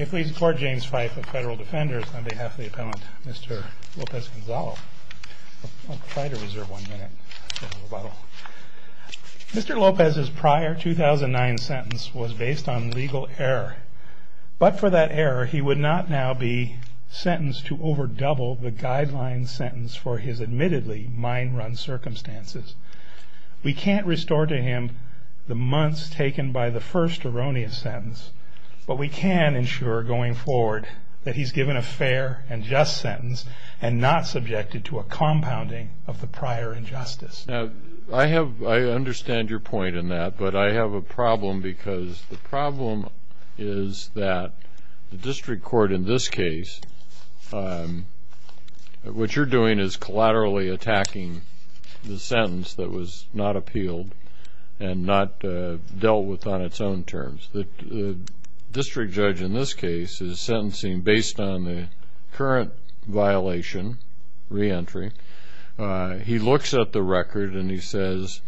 Mr. Lopez's prior 2009 sentence was based on legal error, but for that error he would not now be sentenced to over double the guideline sentence for his admittedly mind run circumstances. We can't restore to him the months taken by the first erroneous sentence, but we can ensure going forward that he's given a fair and just sentence and not subjected to a compounding of the prior injustice. Now, I understand your point in that, but I have a problem because the problem is that the district court in this case, what you're doing is collaterally attacking the sentence that was not appealed and not dealt with on its own terms. The district judge in this case is sentencing based on the current violation, re-entry. He looks at the record and he says,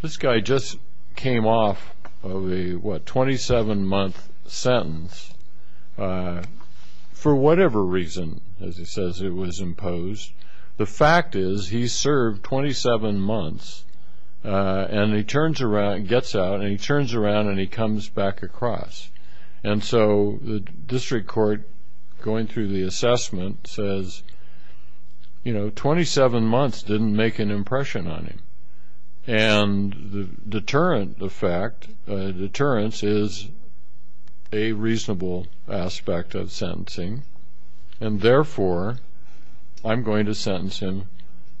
this guy just came off of a, what, 27 month sentence for whatever reason, as he says it was imposed. The fact is he served 27 months and he turns around, gets out, and he turns around and he comes back across. And so the district court going through the assessment says, you know, 27 months didn't make an impression on him. And the deterrent effect, deterrence is a reasonable aspect of sentencing. And therefore, I'm going to sentence him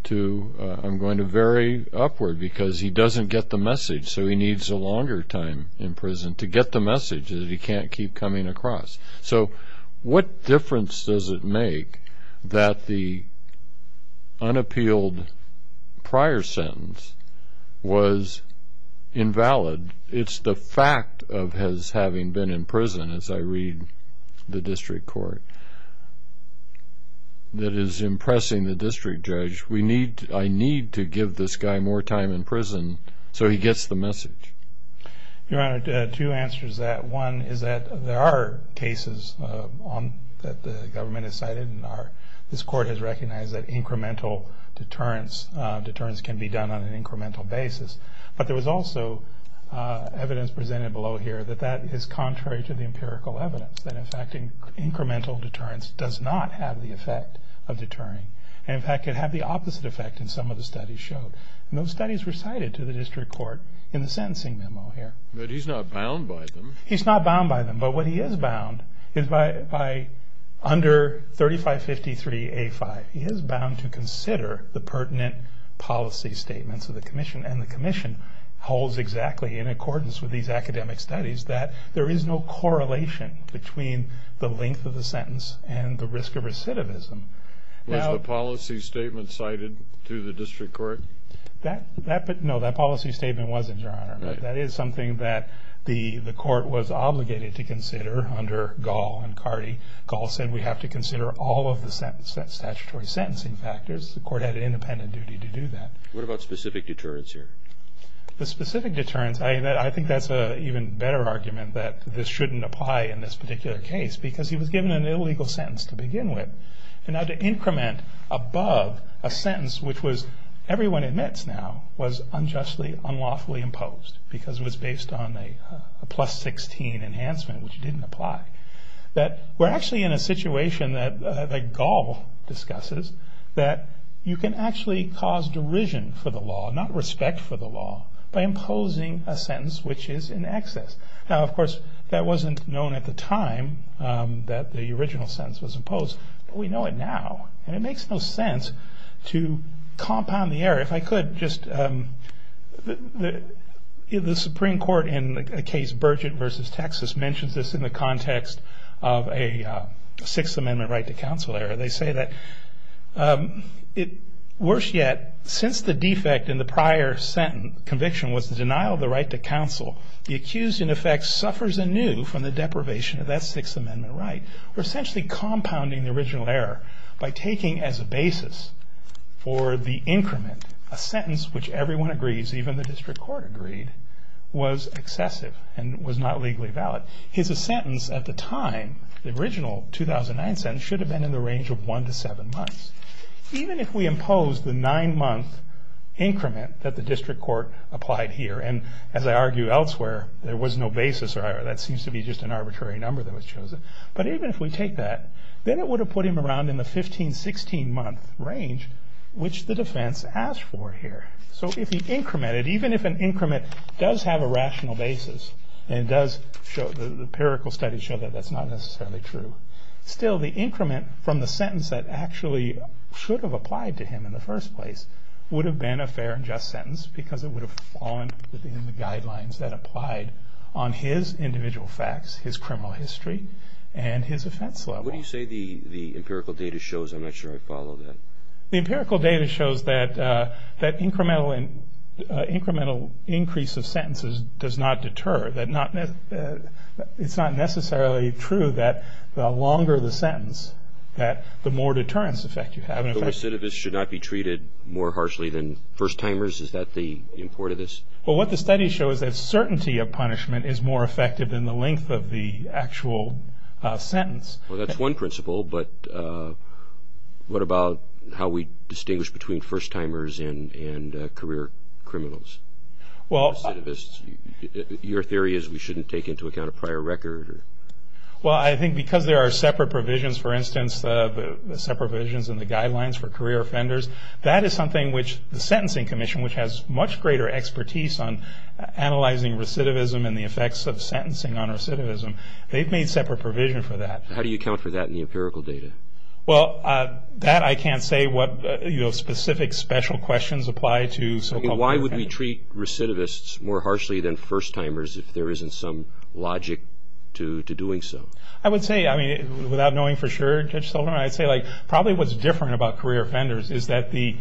to, I'm going to vary upward because he doesn't get the message. So he needs a longer time in prison to get the message that he can't keep coming across. So what difference does it make that the unappealed prior sentence was invalid? It's the fact of his having been in prison, as I read the district court, that is impressing the district judge. I need to give this guy more time in prison so he gets the message. Your Honor, two answers to that. One is that there are cases that the government has cited and this court has recognized that incremental deterrence can be done on an incremental basis. But there was also evidence presented below here that that is contrary to the empirical evidence. That in fact, incremental deterrence does not have the effect of deterring. And in fact, it had the opposite effect in some of the studies showed. And those studies were cited to the district court in the sentencing memo here. But he's not bound by them. He's not bound by them. But what he is bound is by under 3553A5, he is bound to consider the pertinent policy statements of the commission. And the commission holds exactly in accordance with these academic studies that there is no correlation between the length of the sentence and the risk of recidivism. Was the policy statement cited to the district court? No, that policy statement wasn't, Your Honor. That is something that the court was obligated to consider under Gall and Cardi. Gall said we have to consider all of the statutory sentencing factors. The court had an independent duty to do that. What about specific deterrence here? The specific deterrence, I think that's an even better argument that this shouldn't apply in this particular case because he was given an illegal sentence to begin with. And now to increment above a sentence which was, everyone admits now, was unjustly, unlawfully imposed because it was based on a plus 16 enhancement which didn't apply. We're actually in a situation that Gall discusses that you can actually cause derision for the law, not respect for the law, by imposing a sentence which is in excess. Now, of course, that wasn't known at the time that the original sentence was imposed, but we know it now. And it makes no sense to compound the error. If I could just, the Supreme Court in the case Burgett v. Texas mentions this in the context of a Sixth Amendment right to counsel error. They say that, worse yet, since the defect in the prior conviction was the denial of the right to counsel, the accused in effect suffers anew from the deprivation of that Sixth Amendment right. We're essentially compounding the original error by taking as a basis for the increment a sentence which everyone agrees, even the district court agreed, was excessive and was not legally valid. His sentence at the time, the original 2009 sentence, should have been in the range of one to seven months. Even if we impose the nine-month increment that the district court applied here, and as I argue elsewhere, there was no basis or error. That seems to be just an arbitrary number that was chosen. But even if we take that, then it would have put him around in the 15, 16-month range, which the defense asked for here. So if he incremented, even if an increment does have a rational basis and does show, the empirical studies show that that's not necessarily true, still the increment from the sentence that actually should have applied to him in the first place would have been a fair and just sentence because it would have fallen within the guidelines that applied on his individual facts, his criminal history, and his offense level. What do you say the empirical data shows? I'm not sure I follow that. The empirical data shows that incremental increase of sentences does not deter. It's not necessarily true that the longer the sentence, that the more deterrence effect you have. So recidivists should not be treated more harshly than first-timers? Is that the import of this? Well, what the studies show is that certainty of punishment is more effective than the length of the actual sentence. Well, that's one principle, but what about how we distinguish between first-timers and career criminals, recidivists? Your theory is we shouldn't take into account a prior record? Well, I think because there are separate provisions, for instance, the separate provisions in the guidelines for career offenders, that is something which the Sentencing Commission, which has much greater expertise on analyzing recidivism and the effects of sentencing on recidivism, they've made separate provisions for that. How do you account for that in the empirical data? Well, that I can't say what specific special questions apply to. Why would we treat recidivists more harshly than first-timers if there isn't some logic to doing so? I would say, without knowing for sure, Judge Sullivan, I'd say probably what's different about career offenders is that the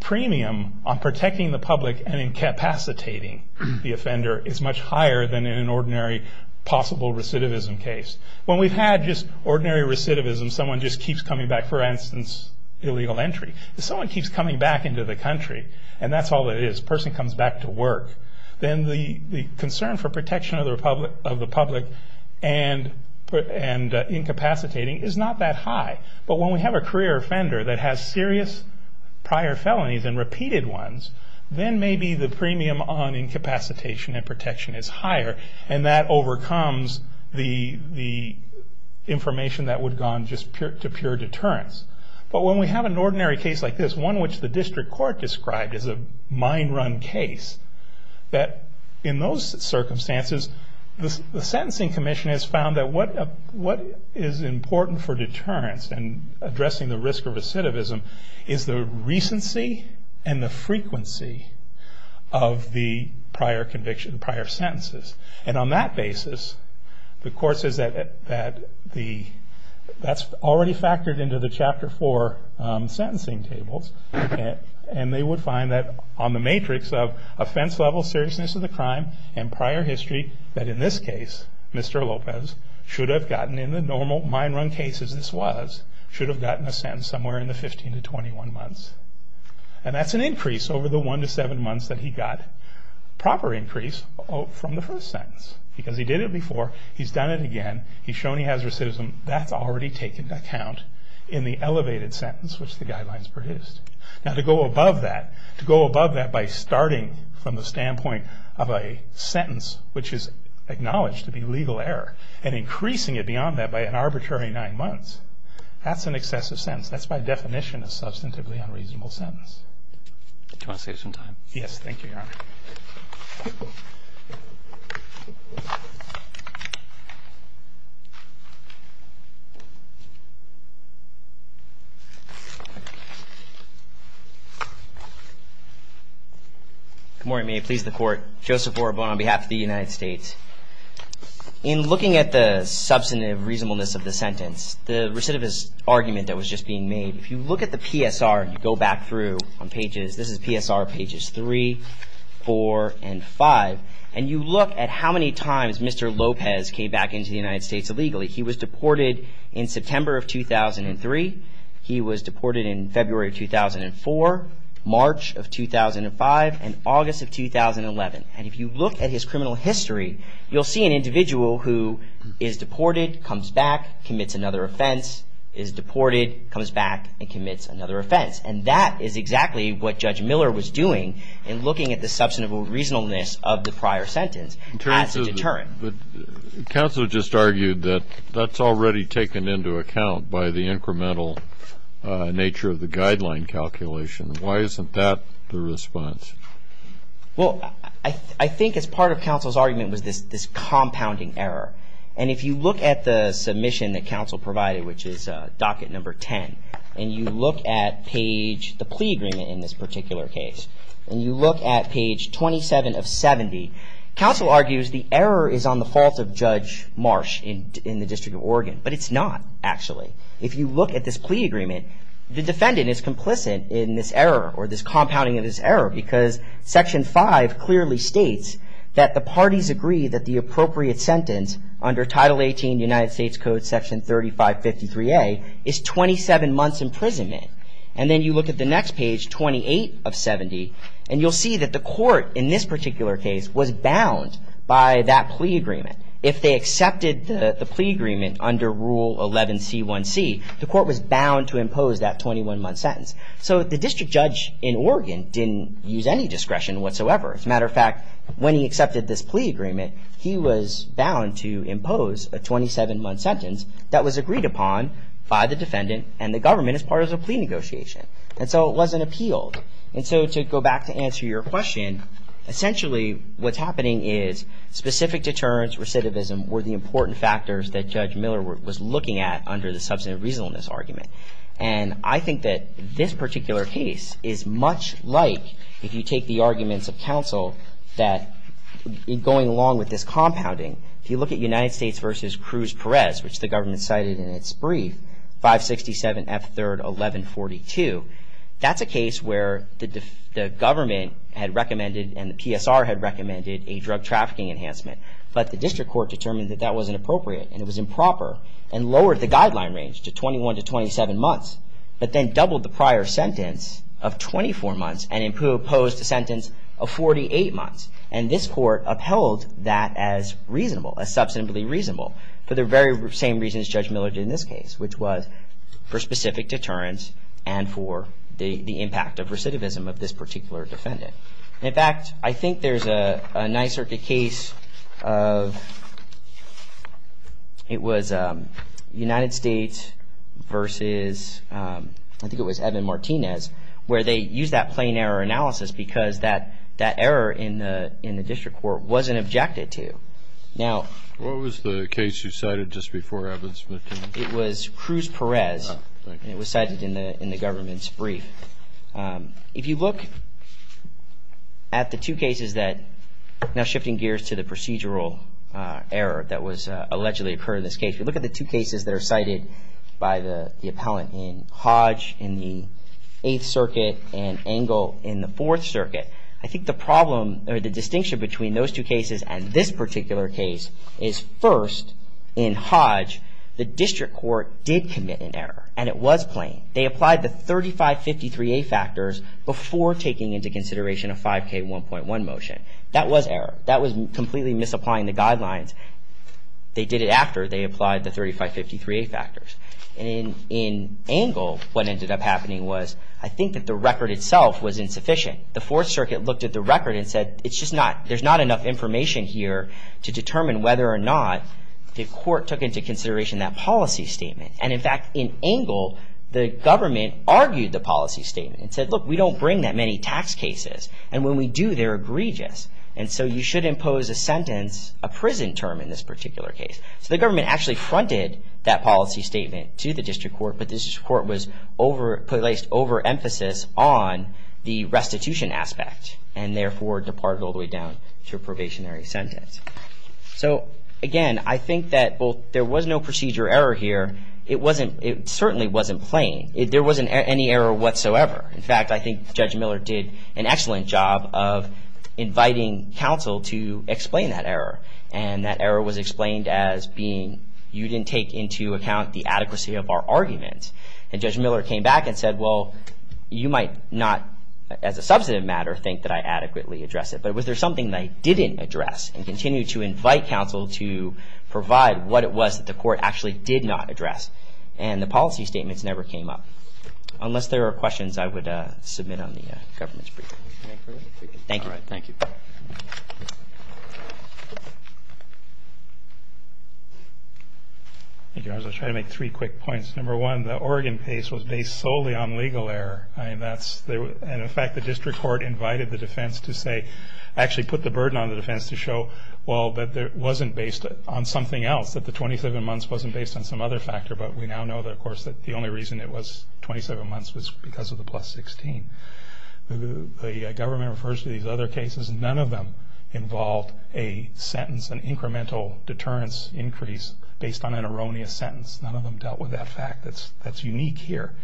premium on protecting the public and incapacitating the offender is much higher than in an ordinary possible recidivism case. When we've had just ordinary recidivism, someone just keeps coming back, for instance, illegal entry. If someone keeps coming back into the country, and that's all it is, a person comes back to work, then the concern for protection of the public and incapacitating is not that high. But when we have a career offender that has serious prior felonies and repeated ones, then maybe the premium on incapacitation and protection is higher, and that overcomes the information that would have gone just to pure deterrence. But when we have an ordinary case like this, one which the district court described as a mind-run case, that in those circumstances, the Sentencing Commission has found that what is important for deterrence and addressing the risk of recidivism is the recency and the frequency of the prior conviction, prior sentences. And on that basis, the court says that that's already factored into the Chapter 4 sentencing tables, and they would find that on the matrix of offense level, seriousness of the crime, and prior history, that in this case, Mr. Lopez should have gotten, in the normal mind-run cases this was, should have gotten a sentence somewhere in the 15 to 21 months. And that's an increase over the 1 to 7 months that he got, proper increase from the first sentence. Because he did it before, he's done it again, he's shown he has recidivism, that's already taken account in the elevated sentence which the guidelines produced. Now to go above that, to go above that by starting from the standpoint of a sentence which is acknowledged to be legal error, and increasing it beyond that by an arbitrary 9 months, that's an excessive sentence. That's by definition a substantively unreasonable sentence. Do you want to save some time? Yes, thank you, Your Honor. Good morning, may it please the Court. Joseph Orobon on behalf of the United States. In looking at the substantive reasonableness of the sentence, the recidivist argument that was just being made, if you look at the PSR, you go back through on pages, this is PSR pages 3, 4, and 5, and you look at how many times Mr. Lopez came back into the United States illegally. He was deported in September of 2003. He was deported in February of 2004, March of 2005, and August of 2011. And if you look at his criminal history, you'll see an individual who is deported, comes back, commits another offense, is deported, comes back, and commits another offense. And that is exactly what Judge Miller was doing in looking at the substantive reasonableness of the prior sentence as a deterrent. Counsel just argued that that's already taken into account by the incremental nature of the guideline calculation. Why isn't that the response? Well, I think as part of counsel's argument was this compounding error. And if you look at the submission that counsel provided, which is docket number 10, and you look at page, the plea agreement in this particular case, and you look at page 27 of 70, counsel argues the error is on the fault of Judge Marsh in the District of Oregon. But it's not, actually. If you look at this plea agreement, the defendant is complicit in this error, or this compounding of this error, because section 5 clearly states that the parties agree that the appropriate sentence under Title 18 United States Code Section 3553A is 27 months' imprisonment. And then you look at the next page, 28 of 70, and you'll see that the court in this particular case was bound by that plea agreement. If they accepted the plea agreement under Rule 11C1C, the court was bound to impose that 21-month sentence. So the district judge in Oregon didn't use any discretion whatsoever. As a matter of fact, when he accepted this plea agreement, he was bound to impose a 27-month sentence that was agreed upon by the defendant and the government as part of the plea negotiation. And so it wasn't appealed. And so to go back to answer your question, essentially what's happening is specific deterrence, recidivism, were the important factors that Judge Miller was looking at under the substantive reasonableness argument. And I think that this particular case is much like, if you take the arguments of counsel that, going along with this compounding, if you look at United States v. Cruz Perez, which the government cited in its brief, 567F3-1142, that's a case where the government had recommended and the PSR had recommended a drug trafficking enhancement. But the district court determined that that wasn't appropriate and it was improper and lowered the guideline range to 21 to 27 months, but then doubled the prior sentence of 24 months and imposed a sentence of 48 months. And this court upheld that as reasonable, as substantively reasonable, for the very same reasons Judge Miller did in this case, which was for specific deterrence and for the impact of recidivism of this particular defendant. In fact, I think there's a nice circuit case of, it was United States v. I think it was Evan Martinez, where they used that plain error analysis because that error in the district court wasn't objected to. What was the case you cited just before Evans Martinez? It was Cruz Perez, and it was cited in the government's brief. If you look at the two cases that, now shifting gears to the procedural error that allegedly occurred in this case, if you look at the two cases that are cited by the appellant in Hodge in the Eighth Circuit and Engle in the Fourth Circuit, I think the problem or the distinction between those two cases and this particular case is first, in Hodge, the district court did commit an error, and it was plain. They applied the 3553A factors before taking into consideration a 5K1.1 motion. That was error. That was completely misapplying the guidelines. They did it after they applied the 3553A factors. In Engle, what ended up happening was, I think that the record itself was insufficient. The Fourth Circuit looked at the record and said, there's not enough information here to determine whether or not the court took into consideration that policy statement. In fact, in Engle, the government argued the policy statement and said, look, we don't bring that many tax cases, and when we do, they're egregious, and so you should impose a sentence, a prison term in this particular case. So the government actually fronted that policy statement to the district court, but the district court placed overemphasis on the restitution aspect and therefore departed all the way down to a probationary sentence. So again, I think that there was no procedure error here. It certainly wasn't plain. There wasn't any error whatsoever. In fact, I think Judge Miller did an excellent job of inviting counsel to explain that error, and that error was explained as being, you didn't take into account the adequacy of our argument, and Judge Miller came back and said, well, you might not, as a substantive matter, think that I adequately addressed it, but was there something that I didn't address, and continued to invite counsel to provide what it was that the court actually did not address, and the policy statements never came up, so unless there are questions, I would submit on the government's briefing. Thank you. Thank you. I'll try to make three quick points. Number one, the Oregon case was based solely on legal error, and in fact, the district court invited the defense to say, actually put the burden on the defense to show, well, that it wasn't based on something else, that the 27 months wasn't based on some other factor, but we now know that, of course, that the only reason it was 27 months was because of the plus 16. The government refers to these other cases. None of them involved a sentence, an incremental deterrence increase based on an erroneous sentence. None of them dealt with that fact. That's unique here.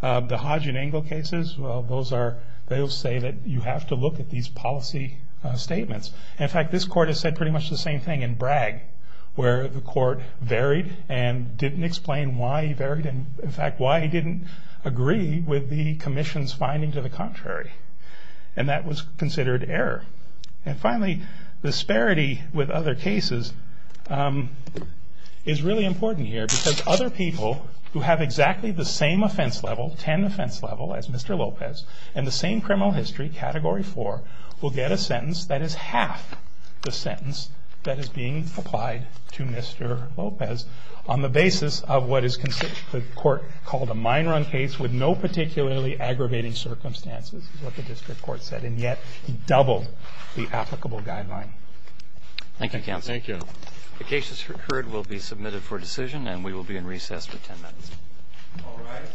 The Hodge and Engel cases, well, those are, they'll say that you have to look at these policy statements. In fact, this court has said pretty much the same thing in Bragg, where the court varied and didn't explain why he varied, in fact, why he didn't agree with the commission's finding to the contrary, and that was considered error. And finally, disparity with other cases is really important here because other people who have exactly the same offense level, 10 offense level, as Mr. Lopez, and the same criminal history, Category 4, will get a sentence that is half the sentence that is being applied to Mr. Lopez on the basis of what is considered, the court called a minor on case with no particularly aggravating circumstances, is what the district court said, and yet doubled the applicable guideline. Thank you, counsel. Thank you. The cases heard will be submitted for decision, and we will be in recess for 10 minutes. All rise.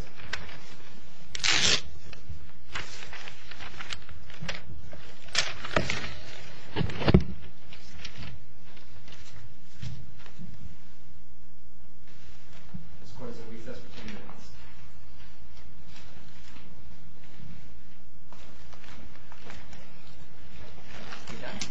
This court is in recess for 10 minutes.